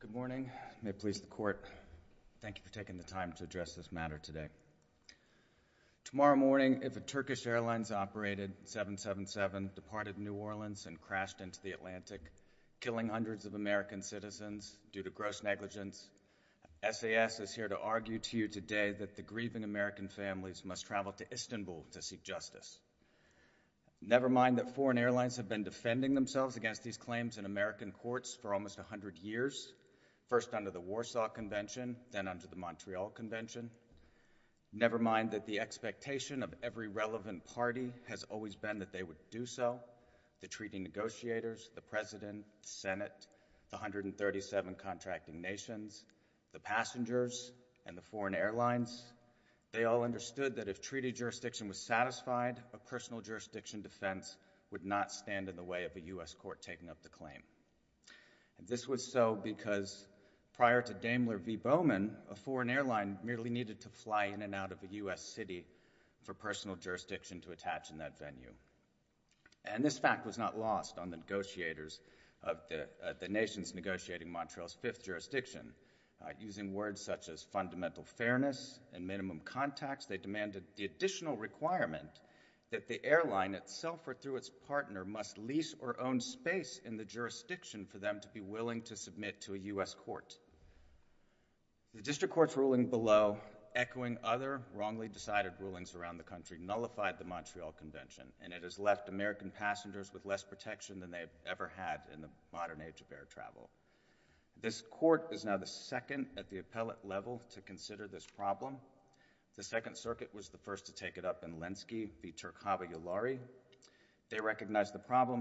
Good morning. May it please the court, thank you for taking the time to address this matter today. Tomorrow morning, if a Turkish Airlines operated 777, departed New Orleans and crashed into the Atlantic, killing hundreds of American citizens due to gross negligence, SAS is here to argue to you today that the grieving American families must travel to Istanbul to seek justice. Never mind that foreign airlines have been defending themselves against these claims in American courts for almost a hundred years, first under the Warsaw Convention, then under the Montreal Convention. Never mind that the expectation of every relevant party has always been that they would do so. The treaty negotiators, the President, Senate, the 137 contracting nations, the passengers, and the foreign airlines, they all understood that if treaty jurisdiction was satisfied, a personal jurisdiction defense would not stand in the way of the U.S. Court taking up the claim. This was so because prior to Daimler v. Bowman, a foreign airline merely needed to fly in and out of the U.S. city for personal jurisdiction to attach in that venue. And this fact was not lost on the negotiators of the nations negotiating Montreal's fifth jurisdiction. Using words such as fundamental fairness and minimum contacts, they demanded the additional requirement that the airline itself or through its partner must lease or own space in the jurisdiction for them to be willing to submit to a U.S. court. The district court's ruling below, echoing other wrongly decided rulings around the country, nullified the Montreal Convention, and it has left American passengers with less protection than they've ever had in the modern age of air travel. This court is now the second at the appellate level to consider this problem. The Second Circuit was the first to take it up in this realm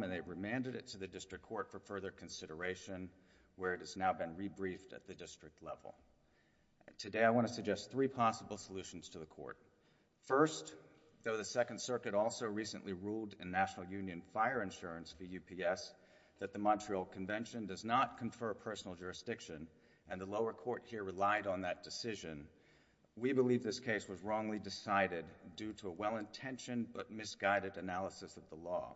and they remanded it to the district court for further consideration where it has now been rebriefed at the district level. Today, I want to suggest three possible solutions to the court. First, though the Second Circuit also recently ruled in National Union Fire Insurance, the UPS, that the Montreal Convention does not confer personal jurisdiction and the lower court here relied on that decision, we believe this case was wrongly decided due to a mal-intentioned but misguided analysis of the law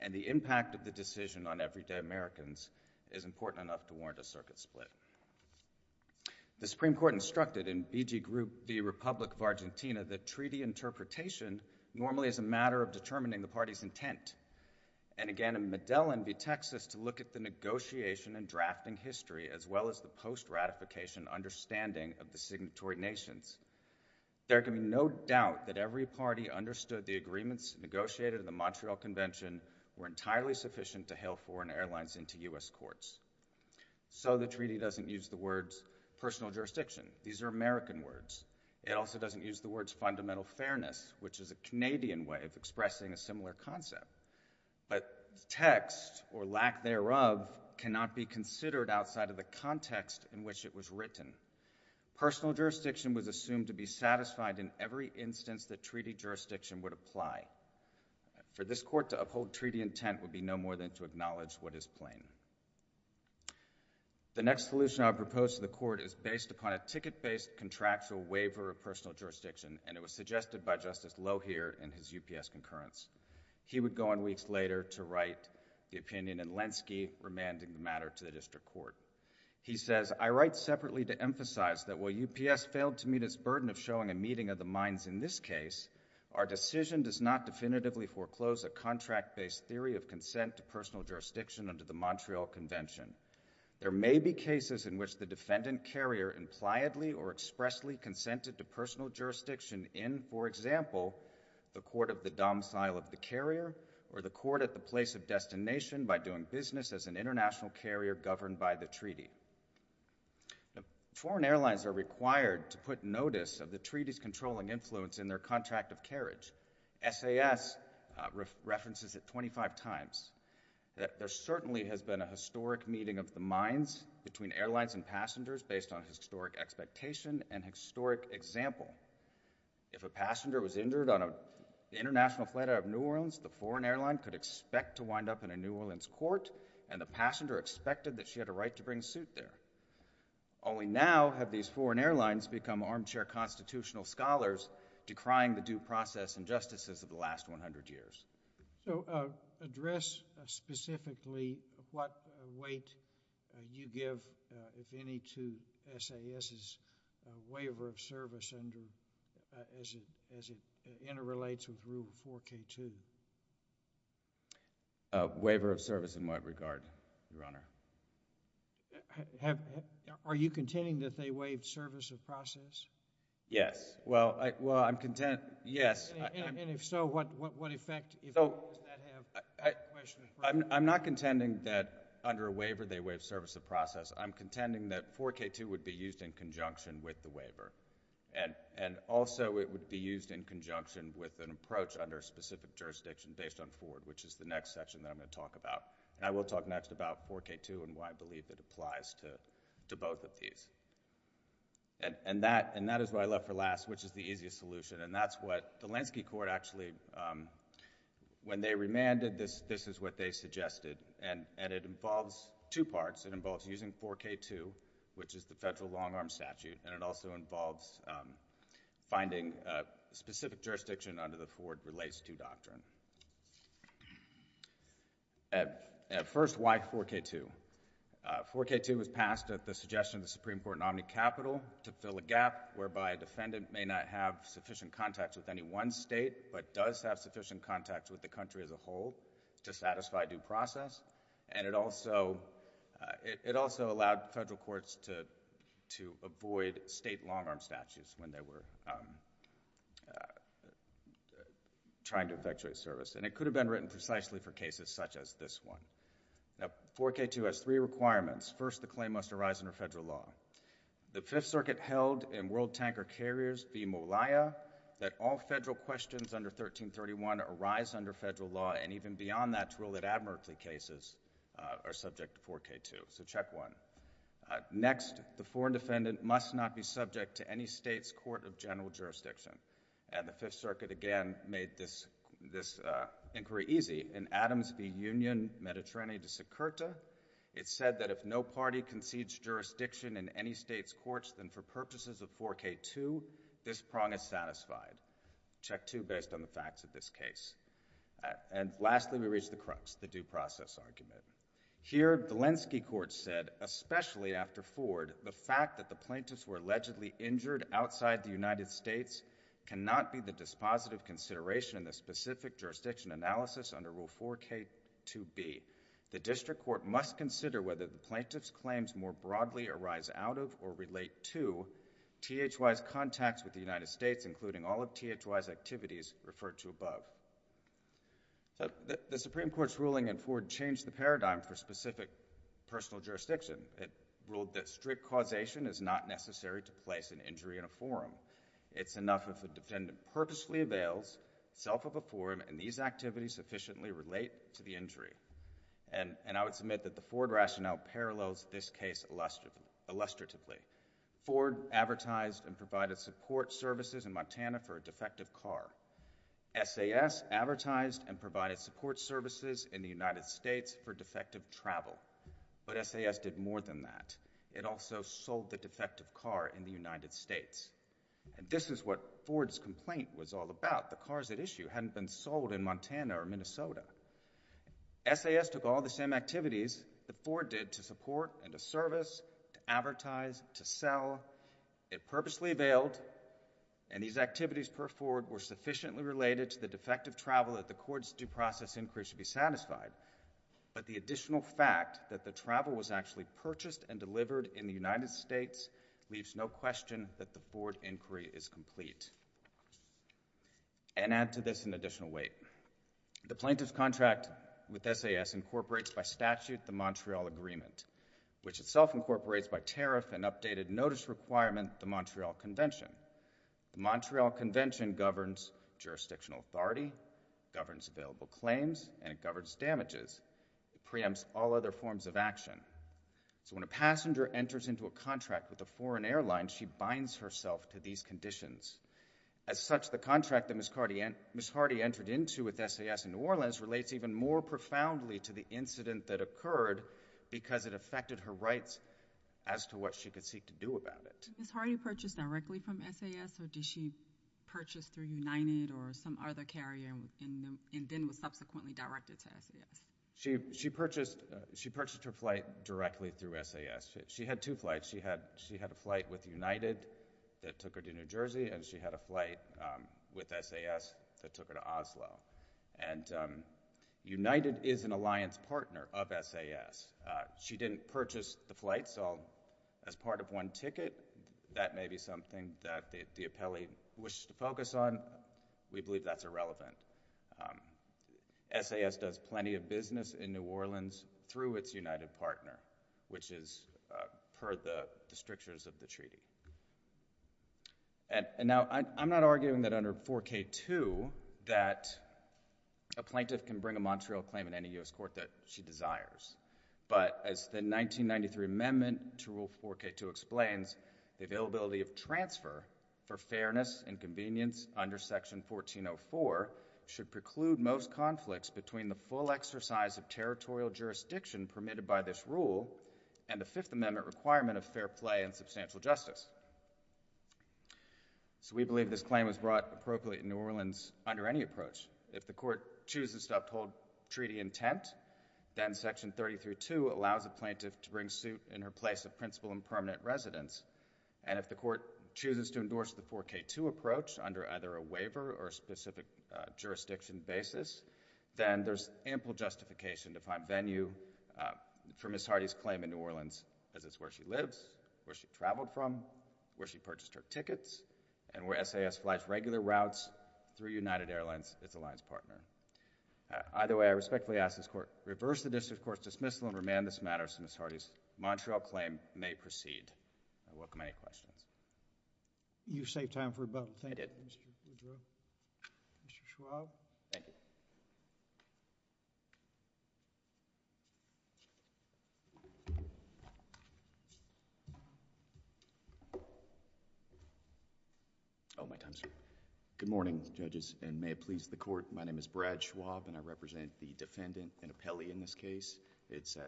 and the impact of the decision on everyday Americans is important enough to warrant a circuit split. The Supreme Court instructed in BG Group v. Republic of Argentina that treaty interpretation normally is a matter of determining the party's intent and again in Medellin v. Texas to look at the negotiation and drafting history as well as the post-ratification understanding of the signatory nations. There can be no doubt that every party understood the agreements negotiated in the Montreal Convention were entirely sufficient to hail foreign airlines into U.S. courts. So the treaty doesn't use the words personal jurisdiction. These are American words. It also doesn't use the words fundamental fairness, which is a Canadian way of expressing a similar concept, but text or lack thereof cannot be considered outside of the context in which it was written. Personal jurisdiction was assumed to be satisfied in every instance that treaty jurisdiction would apply. For this court to uphold treaty intent would be no more than to acknowledge what is plain. The next solution I propose to the court is based upon a ticket-based contractual waiver of personal jurisdiction and it was suggested by Justice Lohier in his UPS concurrence. He would go on weeks later to write the opinion in Lenski remanding the matter to the court. While UPS failed to meet its burden of showing a meeting of the minds in this case, our decision does not definitively foreclose a contract-based theory of consent to personal jurisdiction under the Montreal Convention. There may be cases in which the defendant carrier impliedly or expressly consented to personal jurisdiction in, for example, the court of the domicile of the carrier or the court at the place of destination by doing business as an international flight out of New Orleans, the foreign airline could expect to wind up in a New Orleans court and the passenger expected that she had a right to bring a suit there. Only now have these foreign airlines been able to become armchair constitutional scholars, decrying the due process and justices of the last 100 years. So, address specifically what weight you give, if any, to SAS's waiver of service under... as it interrelates with Rule 4K2. Waiver of service in what regard, Your Honor? Are you contending that they waived service of process? Yes. Well, I'm contending... yes. And if so, what effect does that have? I'm not contending that under a waiver they waived service of process. I'm contending that 4K2 would be used in conjunction with the waiver, and also it would be used in conjunction with an approach under a specific jurisdiction based on Ford, which is the next section that I'm going to talk about. And I will talk next about 4K2 and why I believe it applies to both of these. And that is what I left for last, which is the easiest solution, and that's what the Lansky Court actually... when they remanded this, this is what they suggested, and it involves two parts. It involves using 4K2, which is the federal long-arm statute, and it also involves finding a specific jurisdiction under the Ford Relates to Doctrine. First, why 4K2? 4K2 was passed at the suggestion of the Supreme Court nominee, Capitol, to fill a gap whereby a defendant may not have sufficient contacts with any one state, but does have sufficient contacts with the country as a whole to satisfy due process, and it also allowed federal courts to avoid state long-arm statutes when they were trying to effectuate service, and it could have been written precisely for cases such as this one. Now, 4K2 has three requirements. First, the claim must arise under federal law. The Fifth Circuit held in World Tanker Carriers v. Molia that all federal questions under 1331 arise under federal law, and even beyond that, to rule that admirably cases are subject to 4K2. So, check one. Next, the foreign defendant must not be subject to any state's court of general jurisdiction, and the Fifth Circuit, again, made this inquiry easy. In Adams v. Union, Mediterranean de Securita, it said that if no party concedes jurisdiction in any state's courts, then for purposes of 4K2, this prong is satisfied. Check two, based on the facts of this case. And lastly, we reach the crux, the due process argument. Here, the Lenski Court said, especially after Ford, the fact that the plaintiffs were allegedly injured outside the United States cannot be the dispositive consideration in the specific jurisdiction analysis under Rule 4K2b. The district court must consider whether the plaintiff's claims more broadly arise out of or relate to THY's contacts with the United States, including all of THY's activities referred to above. So, the Supreme Court's ruling in Ford changed the paradigm for specific personal jurisdiction. It ruled that strict causation is not necessary to place an injury in a forum. It's enough if the defendant purposefully avails itself of a forum, and these activities sufficiently relate to the injury. And I would submit that the Ford rationale parallels this case illustratively. Ford advertised and provided support services in Montana for a defective car. SAS advertised and provided support services in the United States for defective travel. But SAS did more than that. It also sold the defective car in the United States. And this is what Ford's complaint was all about. The cars at issue hadn't been sold in Montana or Minnesota. SAS took all the same activities that Ford did to support and to service, to advertise, to sell. It purposely availed, and these activities per Ford were sufficiently related to the defective travel that the court's due process inquiry should be satisfied. But the additional fact that the travel was actually purchased and delivered in the United States leaves no question that the Ford inquiry is complete. And add to this an additional weight. The plaintiff's contract with SAS incorporates by statute the Montreal Agreement, which itself incorporates by tariff an updated notice requirement the Montreal Convention. The Montreal Convention governs jurisdictional authority, governs available claims, and it governs damages. It preempts all other forms of action. So when a passenger enters into a contract with a foreign airline, she binds herself to these conditions. As such, the contract that Ms. New Orleans relates even more profoundly to the incident that occurred because it affected her rights as to what she could seek to do about it. Was Hardy purchased directly from SAS or did she purchase through United or some other carrier and then was subsequently directed to SAS? She purchased her flight directly through SAS. She had two flights. She had a flight with United that took her to New Jersey and she had a flight with SAS that took her to New Jersey. United is an alliance partner of SAS. She didn't purchase the flight, so as part of one ticket, that may be something that the appellee wishes to focus on. We believe that's irrelevant. SAS does plenty of business in New Orleans through its United partner, which is per the strictures of the treaty. Now, I'm not arguing that under 4K2 that a plaintiff can bring a Montreal claim in any U.S. court that she desires, but as the 1993 amendment to Rule 4K2 explains, the availability of transfer for fairness and convenience under Section 1404 should preclude most conflicts between the full exercise of territorial jurisdiction permitted by this rule and the Fifth Amendment requirement of fair play and substantial justice. So we believe this claim was brought appropriately in New Orleans under any approach. If the court chooses to uphold treaty intent, then Section 30-2 allows a plaintiff to bring suit in her place of principal and permanent residence, and if the court chooses to endorse the 4K2 approach under either a waiver or a specific jurisdiction basis, then there's ample justification to find venue for Ms. Hardy's claim in New Orleans, as it's where she lives, where she traveled from, where she purchased her tickets, and where SAS flights regular routes through United Airlines, its alliance partner. Either way, I respectfully ask this court to reverse the district court's dismissal and remand this matter so Ms. Hardy's Montreal claim may proceed. I welcome any questions. Thank you. You saved time for about... I did. Mr. Schwab. Thank you. Oh, my time's up. Good morning, judges, and may it please the court, my name is Brad Schwab and I represent the defendant and appellee in this case. It's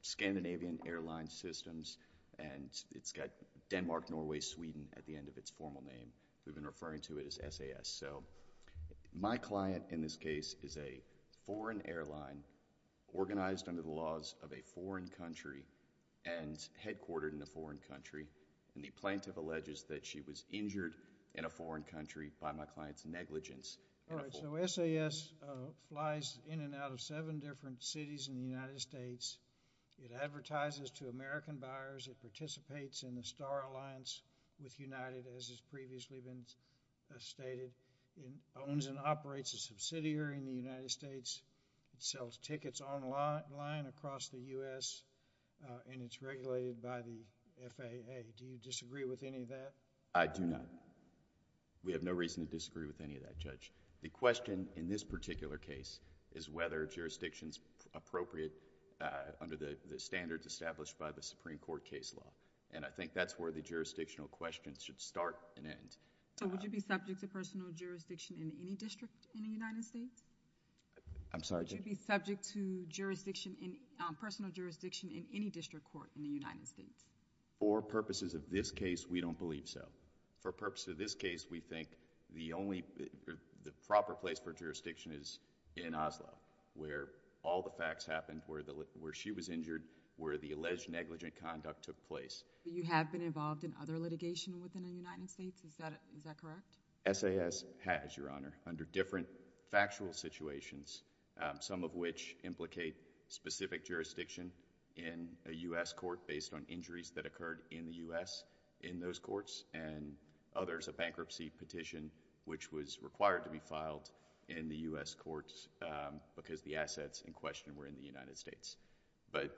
Scandinavian Airlines Systems and it's got Denmark, Norway, Sweden at the end of its formal name. We've been referring to it as SAS. So, my client in this case is a foreign airline organized under the laws of a foreign country and headquartered in a foreign country, and the plaintiff alleges that she was injured in a foreign country by my client's negligence... All right, so SAS flies in and out of seven different cities in the United States. It advertises to American buyers. It participates in the Star Alliance with United as it's previously been stated. It owns and operates a subsidiary in the United States. It sells tickets online across the U.S. and it's regulated by the FAA. Do you disagree with any of that? I do not. We have no reason to disagree with any of that, Judge. The question in this particular case is whether jurisdiction is appropriate under the standards established by the Supreme Court case law, and I think that's where the jurisdictional questions should start and end. So, would you be subject to personal jurisdiction in any district in the United States? I'm sorry, Judge? Would you be subject to personal jurisdiction in any district court in the United States? For purposes of this case, we don't believe so. For purposes of this case, we think the proper place for jurisdiction is in Oslo, where all the facts happened, where she was injured, where the alleged negligent conduct took place. You have been involved in other litigation within the United States? Is that correct? SAS has, Your Honor, under different factual situations, some of which implicate specific jurisdiction in a U.S. court based on injuries that occurred in the U.S. in those courts, and others, a bankruptcy petition which was required to be filed in the U.S. courts because the assets in question were in the United States. But,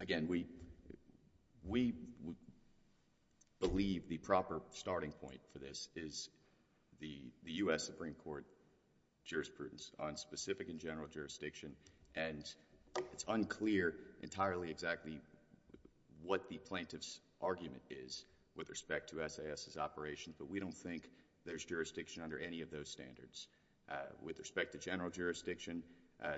again, we believe the proper starting point for this is the U.S. Supreme Court jurisprudence on specific and general to SAS's operation, but we don't think there's jurisdiction under any of those standards. With respect to general jurisdiction,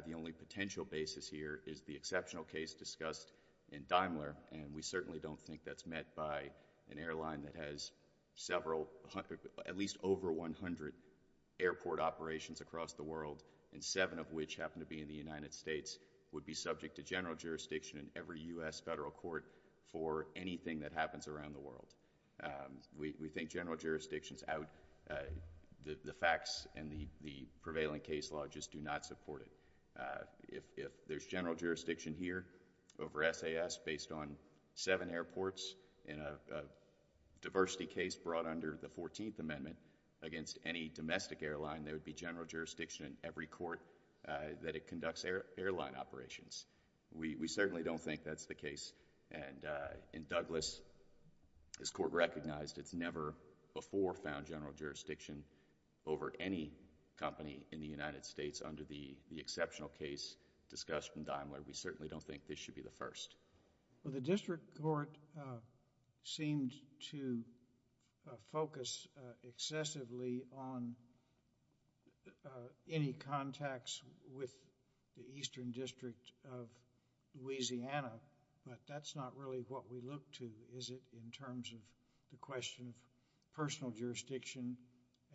the only potential basis here is the exceptional case discussed in Daimler, and we certainly don't think that's met by an airline that has several, at least over 100 airport operations across the world, and seven of which happen to be in the United States, would be subject to general jurisdiction in every U.S. federal court for anything that happens around the world. We think general jurisdiction is out. The facts and the prevailing case law just do not support it. If there's general jurisdiction here over SAS based on seven airports in a diversity case brought under the 14th Amendment against any domestic airline, there would be general jurisdiction in every court that conducts airline operations. We certainly don't think that's the case, and in Douglas, this Court recognized it's never before found general jurisdiction over any company in the United States under the exceptional case discussed in Daimler. We certainly don't think this should be the first. Well, the district court seemed to focus excessively on any contacts with the Eastern District of Louisiana, but that's not really what we look to, is it, in terms of the question of personal jurisdiction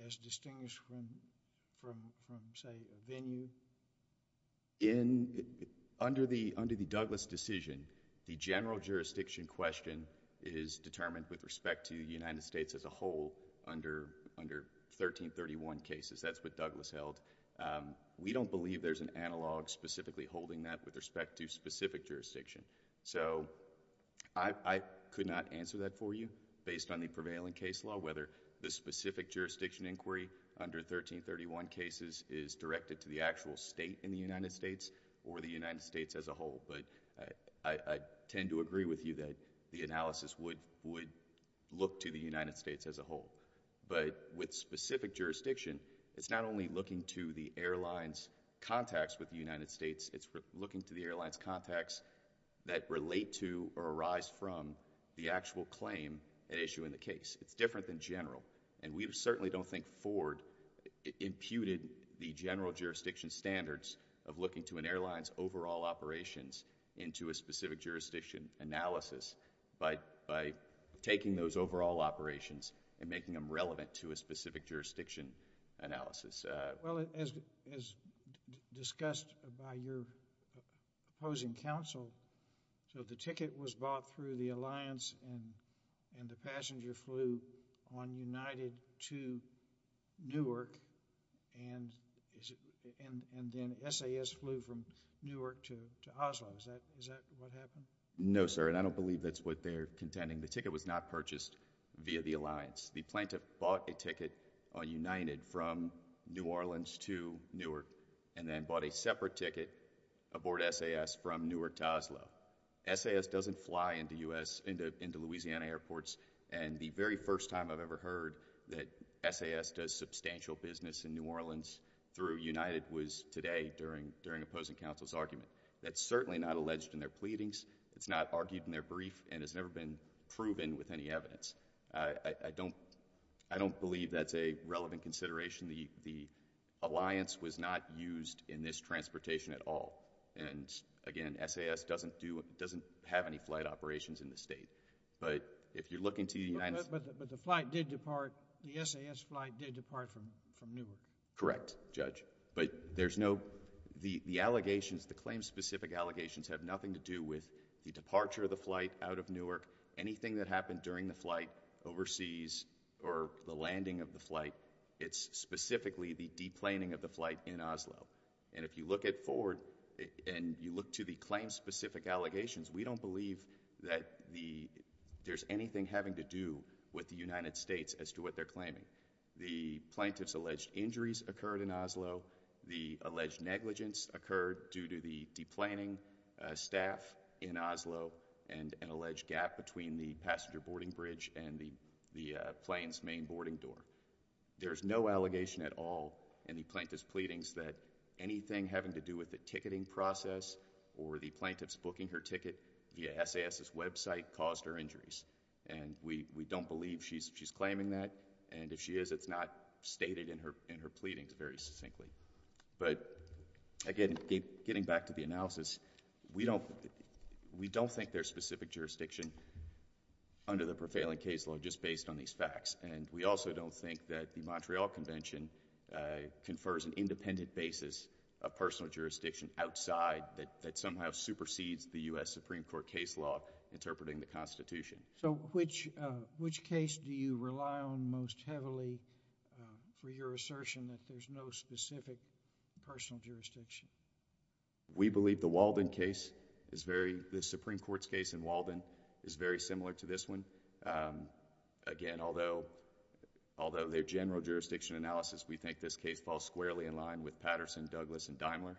as distinguished from, say, a venue? Under the Douglas decision, the general jurisdiction question is determined with respect to the United States as a whole under 1331 cases. That's what Douglas held. We don't believe there's an analog specifically holding that with respect to specific jurisdiction. I could not answer that for you based on the prevailing case law, whether the specific jurisdiction inquiry under 1331 cases is directed to the actual state in the United States or the United States as a whole, but I tend to agree with you that the analysis would look to the United States as a whole, but with specific jurisdiction, it's not only looking to the airline's contacts with the United States, it's looking to the airline's contacts that relate to or arise from the actual claim at issue in the case. It's different than general, and we certainly don't think Ford imputed the general jurisdiction standards of looking to an airline's overall operations into a specific jurisdiction analysis by taking those overall operations and making them relevant to a specific jurisdiction analysis. Well, as discussed by your opposing counsel, so the ticket was bought through the alliance and the passenger flew on United to Newark, and then SAS flew from Newark to Oslo. Is that what happened? No, sir, and I don't believe that's what they're contending. The ticket was not purchased via the alliance. The plaintiff bought a ticket on United from New Orleans to Newark and then bought a separate ticket aboard SAS from Newark to Oslo. SAS doesn't fly into Louisiana airports, and the very first time I've ever heard that SAS does substantial business in New Orleans through United was today during opposing counsel's argument. That's certainly not alleged in their pleadings. It's not argued in their brief, and it's never been proven with any evidence. I don't believe that's a relevant consideration. The alliance was not used in this transportation at all, and again, SAS doesn't do, doesn't have any flight operations in the state, but if you're looking to United... But the flight did depart, the SAS flight did depart from Newark. Correct, Judge, but there's no, the allegations, the claim-specific allegations have nothing to do with the departure of the flight out of Newark. Anything that happened during the flight overseas or the landing of the flight, it's specifically the deplaning of the flight in Oslo, and if you look at forward, and you look to the claim-specific allegations, we don't believe that the, there's anything having to do with the United States as to what they're claiming. The plaintiff's alleged injuries occurred in Oslo, the alleged negligence occurred due to the deplaning staff in Oslo, and an alleged gap between the passenger boarding bridge and the plane's main boarding door. There's no allegation at all in the plaintiff's claims that anything having to do with the ticketing process or the plaintiff's booking her ticket via SAS's website caused her injuries, and we don't believe she's claiming that, and if she is, it's not stated in her pleadings very succinctly. But again, getting back to the analysis, we don't, we don't think there's specific jurisdiction under the prevailing case law just based on these facts, and we also don't think that the Montreal Convention confers an independent basis of personal jurisdiction outside that somehow supersedes the U.S. Supreme Court case law interpreting the Constitution. So which, which case do you rely on most heavily for your assertion that there's no specific personal jurisdiction? We believe the Walden case is very, the Supreme Court's case in Walden is very similar to this one. Again, although, although their general jurisdiction analysis, we think this case falls squarely in line with Patterson, Douglas, and Daimler,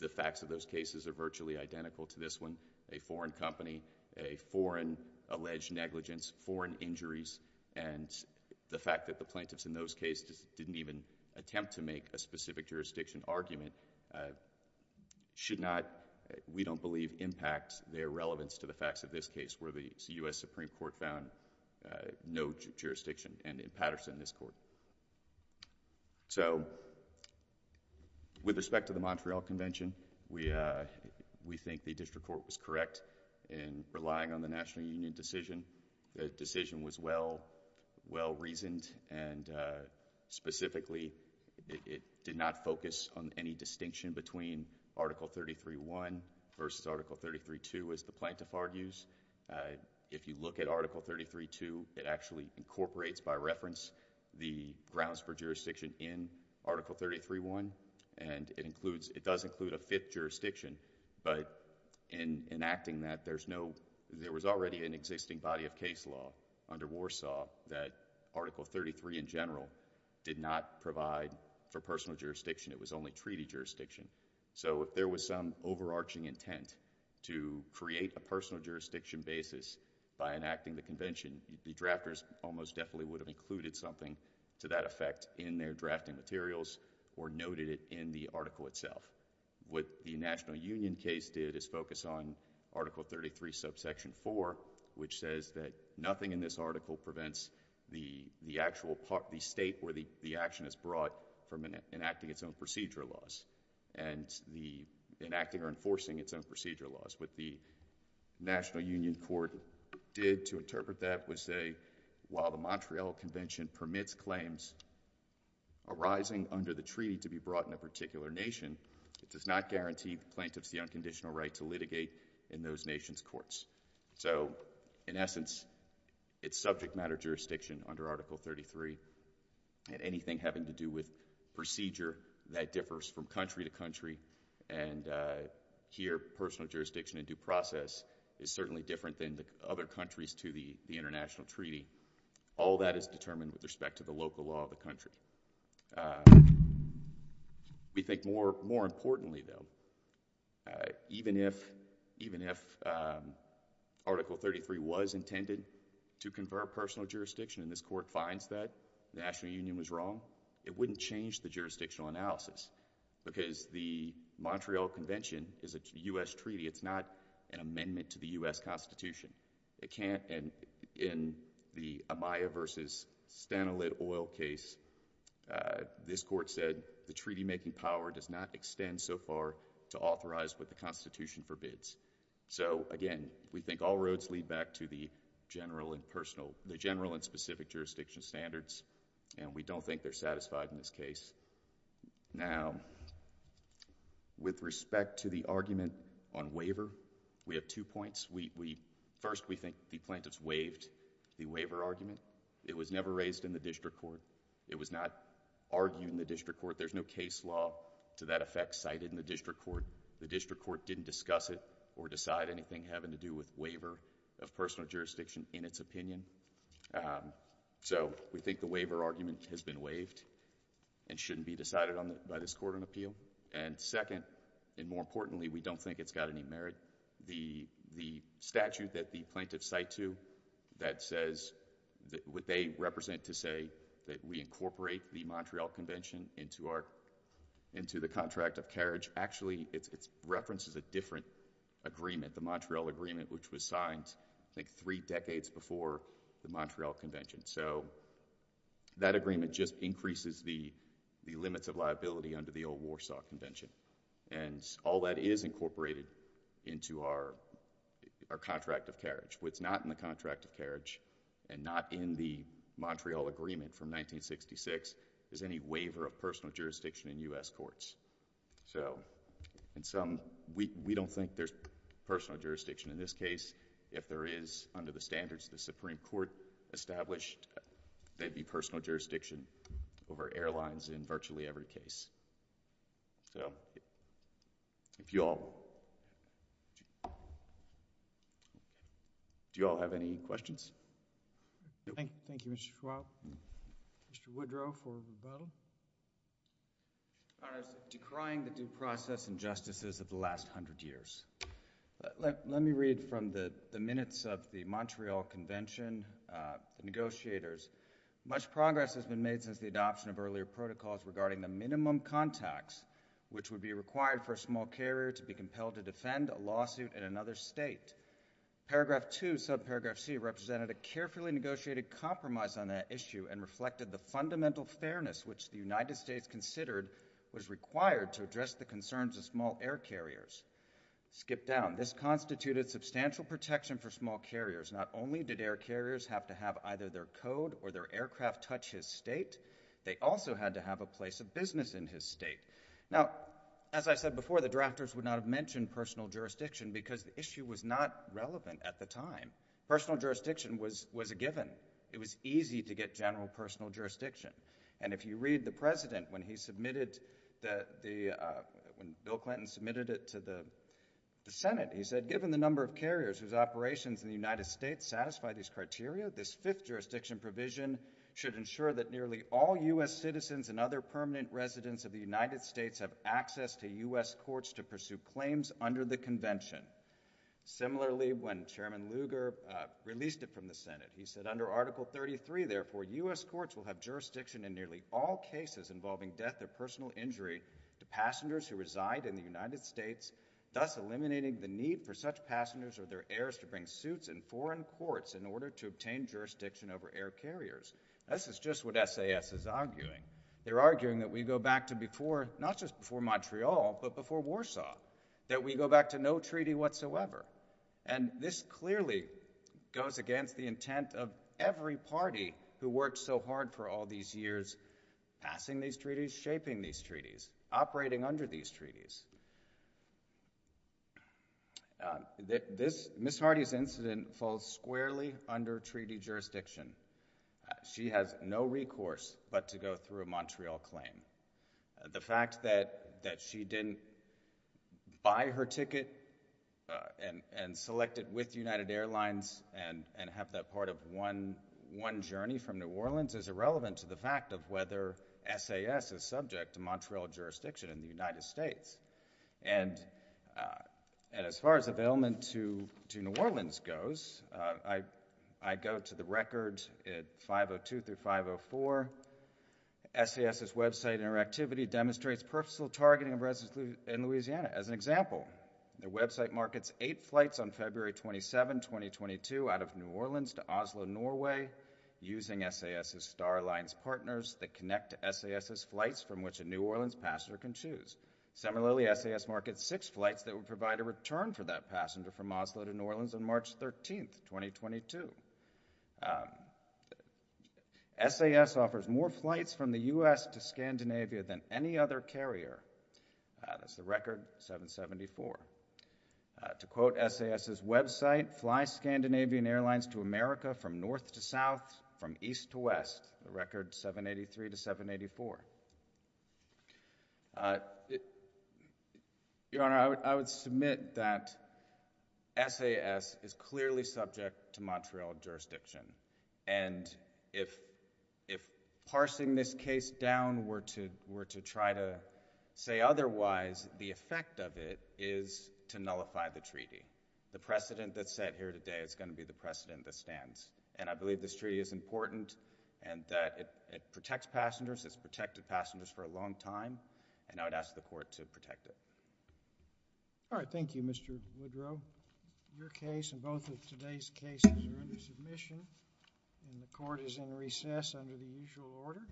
the facts of those cases are virtually identical to this one. A foreign company, a foreign alleged negligence, foreign injuries, and the fact that the plaintiffs in those cases didn't even attempt to make a specific jurisdiction argument should not, we don't believe, impact their relevance to the facts of this case where the U.S. Supreme Court found no jurisdiction, and in Patterson, this Court. So with respect to the Montreal Convention, we, we think the district court was correct in relying on the National Union decision. The decision was well, well reasoned, and specifically, it did not focus on any distinction between Article 33.1 versus Article 33.2 as the plaintiff argues. If you look at Article 33.2, it actually incorporates, by reference, the grounds for jurisdiction in Article 33.1, and it includes, it does include a fifth jurisdiction, but in enacting that, there's no, there was already an existing body of case law under Warsaw that Article 33 in general did not provide for personal jurisdiction. It was only treaty jurisdiction. So if there was some overarching intent to create a personal jurisdiction basis by enacting the Convention, the drafters almost definitely would have included something to that effect in their drafting materials or noted it in the article itself. What the National Union case did is focus on Article 33, subsection 4, which says that nothing in this article prevents the, the actual part, the state where the, the state is enacting its own procedure laws, and the enacting or enforcing its own procedure laws. What the National Union Court did to interpret that was say, while the Montreal Convention permits claims arising under the treaty to be brought in a particular nation, it does not guarantee the plaintiff's the unconditional right to litigate in those nations' courts. So, in essence, it's subject matter jurisdiction under Article 33, and anything having to do with procedure, that differs from country to country, and here, personal jurisdiction in due process is certainly different than the other countries to the, the international treaty. All that is determined with respect to the local law of the country. We think more, more importantly, though, even if, even if Article 33 was intended to confer personal jurisdiction, and this Court finds that, the National Union was wrong, it wouldn't change the jurisdictional analysis, because the Montreal Convention is a U.S. treaty. It's not an amendment to the U.S. Constitution. It can't, and in the Amaya v. Stana Lit Oil case, this Court said, the treaty-making power does not extend so far to authorize what the Constitution forbids. So, again, we think all roads lead back to the general and specific jurisdiction standards, and we don't think they're satisfied in this case. Now, with respect to the argument on waiver, we have two points. We, we, first, we think the plaintiffs waived the waiver argument. It was never raised in the district court. It was not argued in the district court. There's no case law to that effect cited in the district court. The district court didn't discuss it or decide anything having to do with waiver of personal jurisdiction in its opinion. So, we think the waiver argument has been waived and shouldn't be decided on by this Court on appeal, and second, and more importantly, we don't think it's got any merit. The, the statute that the plaintiffs cite to that says that, what they represent to say that we incorporate the Montreal Convention into our, into the contract of carriage, actually, it, it references a different agreement, the Montreal Agreement, which was signed, I think, three decades before the Montreal Convention. So, that agreement just increases the, the limits of liability under the old Warsaw Convention, and all that is incorporated into our, our contract of carriage. What's not in the contract of carriage and not in the Montreal Agreement from 1966 is any waiver of personal jurisdiction in this case. If there is, under the standards the Supreme Court established, there'd be personal jurisdiction over airlines in virtually every case. So, if you all... do you all have any questions? Thank you, Mr. Schwab. Mr. Woodrow for rebuttal. Your Honors, decrying the due process injustices of the last hundred years. Let, let, let me read from the, the minutes of the Montreal Convention negotiators. Much progress has been made since the adoption of earlier protocols regarding the minimum contacts, which would be required for a small carrier to be compelled to defend a lawsuit in another state. Paragraph 2, subparagraph C, represented a carefully negotiated compromise on that issue and reflected the fundamental fairness which the United States considered was required to address the concerns of small air carriers. Skip down. This constituted substantial protection for small carriers. Not only did air carriers have to have either their code or their aircraft touch his state, they also had to have a place of business in his state. Now, as I said before, the drafters would not have mentioned personal jurisdiction because the issue was not relevant at the time. Personal jurisdiction was, was a given. It was easy to get general personal jurisdiction. And if you read the President, when he submitted the, the, uh, when Bill Clinton submitted it to the, the Senate, he said, given the number of carriers whose operations in the United States satisfy these criteria, this fifth jurisdiction provision should ensure that nearly all U.S. citizens and other permanent residents of the United States have access to U.S. courts to pursue claims under the convention. Similarly, when Chairman Lugar released it from the Senate, he said under Article 33, therefore, U.S. courts will have jurisdiction in nearly all cases involving death or personal injury to passengers who reside in the United States, thus eliminating the need for such passengers or their heirs to bring suits in foreign courts in order to obtain jurisdiction over air carriers. This is just what SAS is arguing. They're arguing that we go back to before, not just before Montreal, but before Warsaw, that we go back to no treaty whatsoever. And this clearly goes against the intent of every party who worked so hard for all these years, passing these treaties, shaping these treaties, operating under these treaties. Uh, this, Ms. Hardy's incident falls squarely under treaty jurisdiction. She has no recourse but to go through a Montreal claim. The fact that, that she didn't buy her ticket, uh, and, and select it with United Airlines and, and have that part of one, one journey from New Orleans is irrelevant to the fact of whether SAS is subject to Montreal jurisdiction in the United States. And, uh, and as far as availment to, to New Orleans goes, uh, I, I go to the records at 502 through 504. SAS's website interactivity demonstrates personal targeting of residents in Louisiana. As an example, their website markets eight flights on February 27, 2022 out of New Orleans to Oslo, Norway using SAS's Star Alliance partners that connect to SAS's flights from which a New Orleans passenger can choose. Similarly, SAS markets six flights that would SAS offers more flights from the U.S. to Scandinavia than any other carrier. Uh, that's the record, 774. Uh, to quote SAS's website, fly Scandinavian airlines to America from north to south, from east to west, the record 783 to 784. Uh, it, Your Honor, I would, I would submit that SAS is clearly subject to Montreal jurisdiction. And if, if parsing this case down were to, were to try to say otherwise, the effect of it is to nullify the treaty. The precedent that's set here today is going to be the precedent that stands. And I believe this treaty is important and that it, it protects passengers, it's protected passengers for a long time. And I would ask the court to protect it. All right. Thank you, Mr. Woodrow. Your case and both of today's cases are under submission and the court is in recess under the usual order.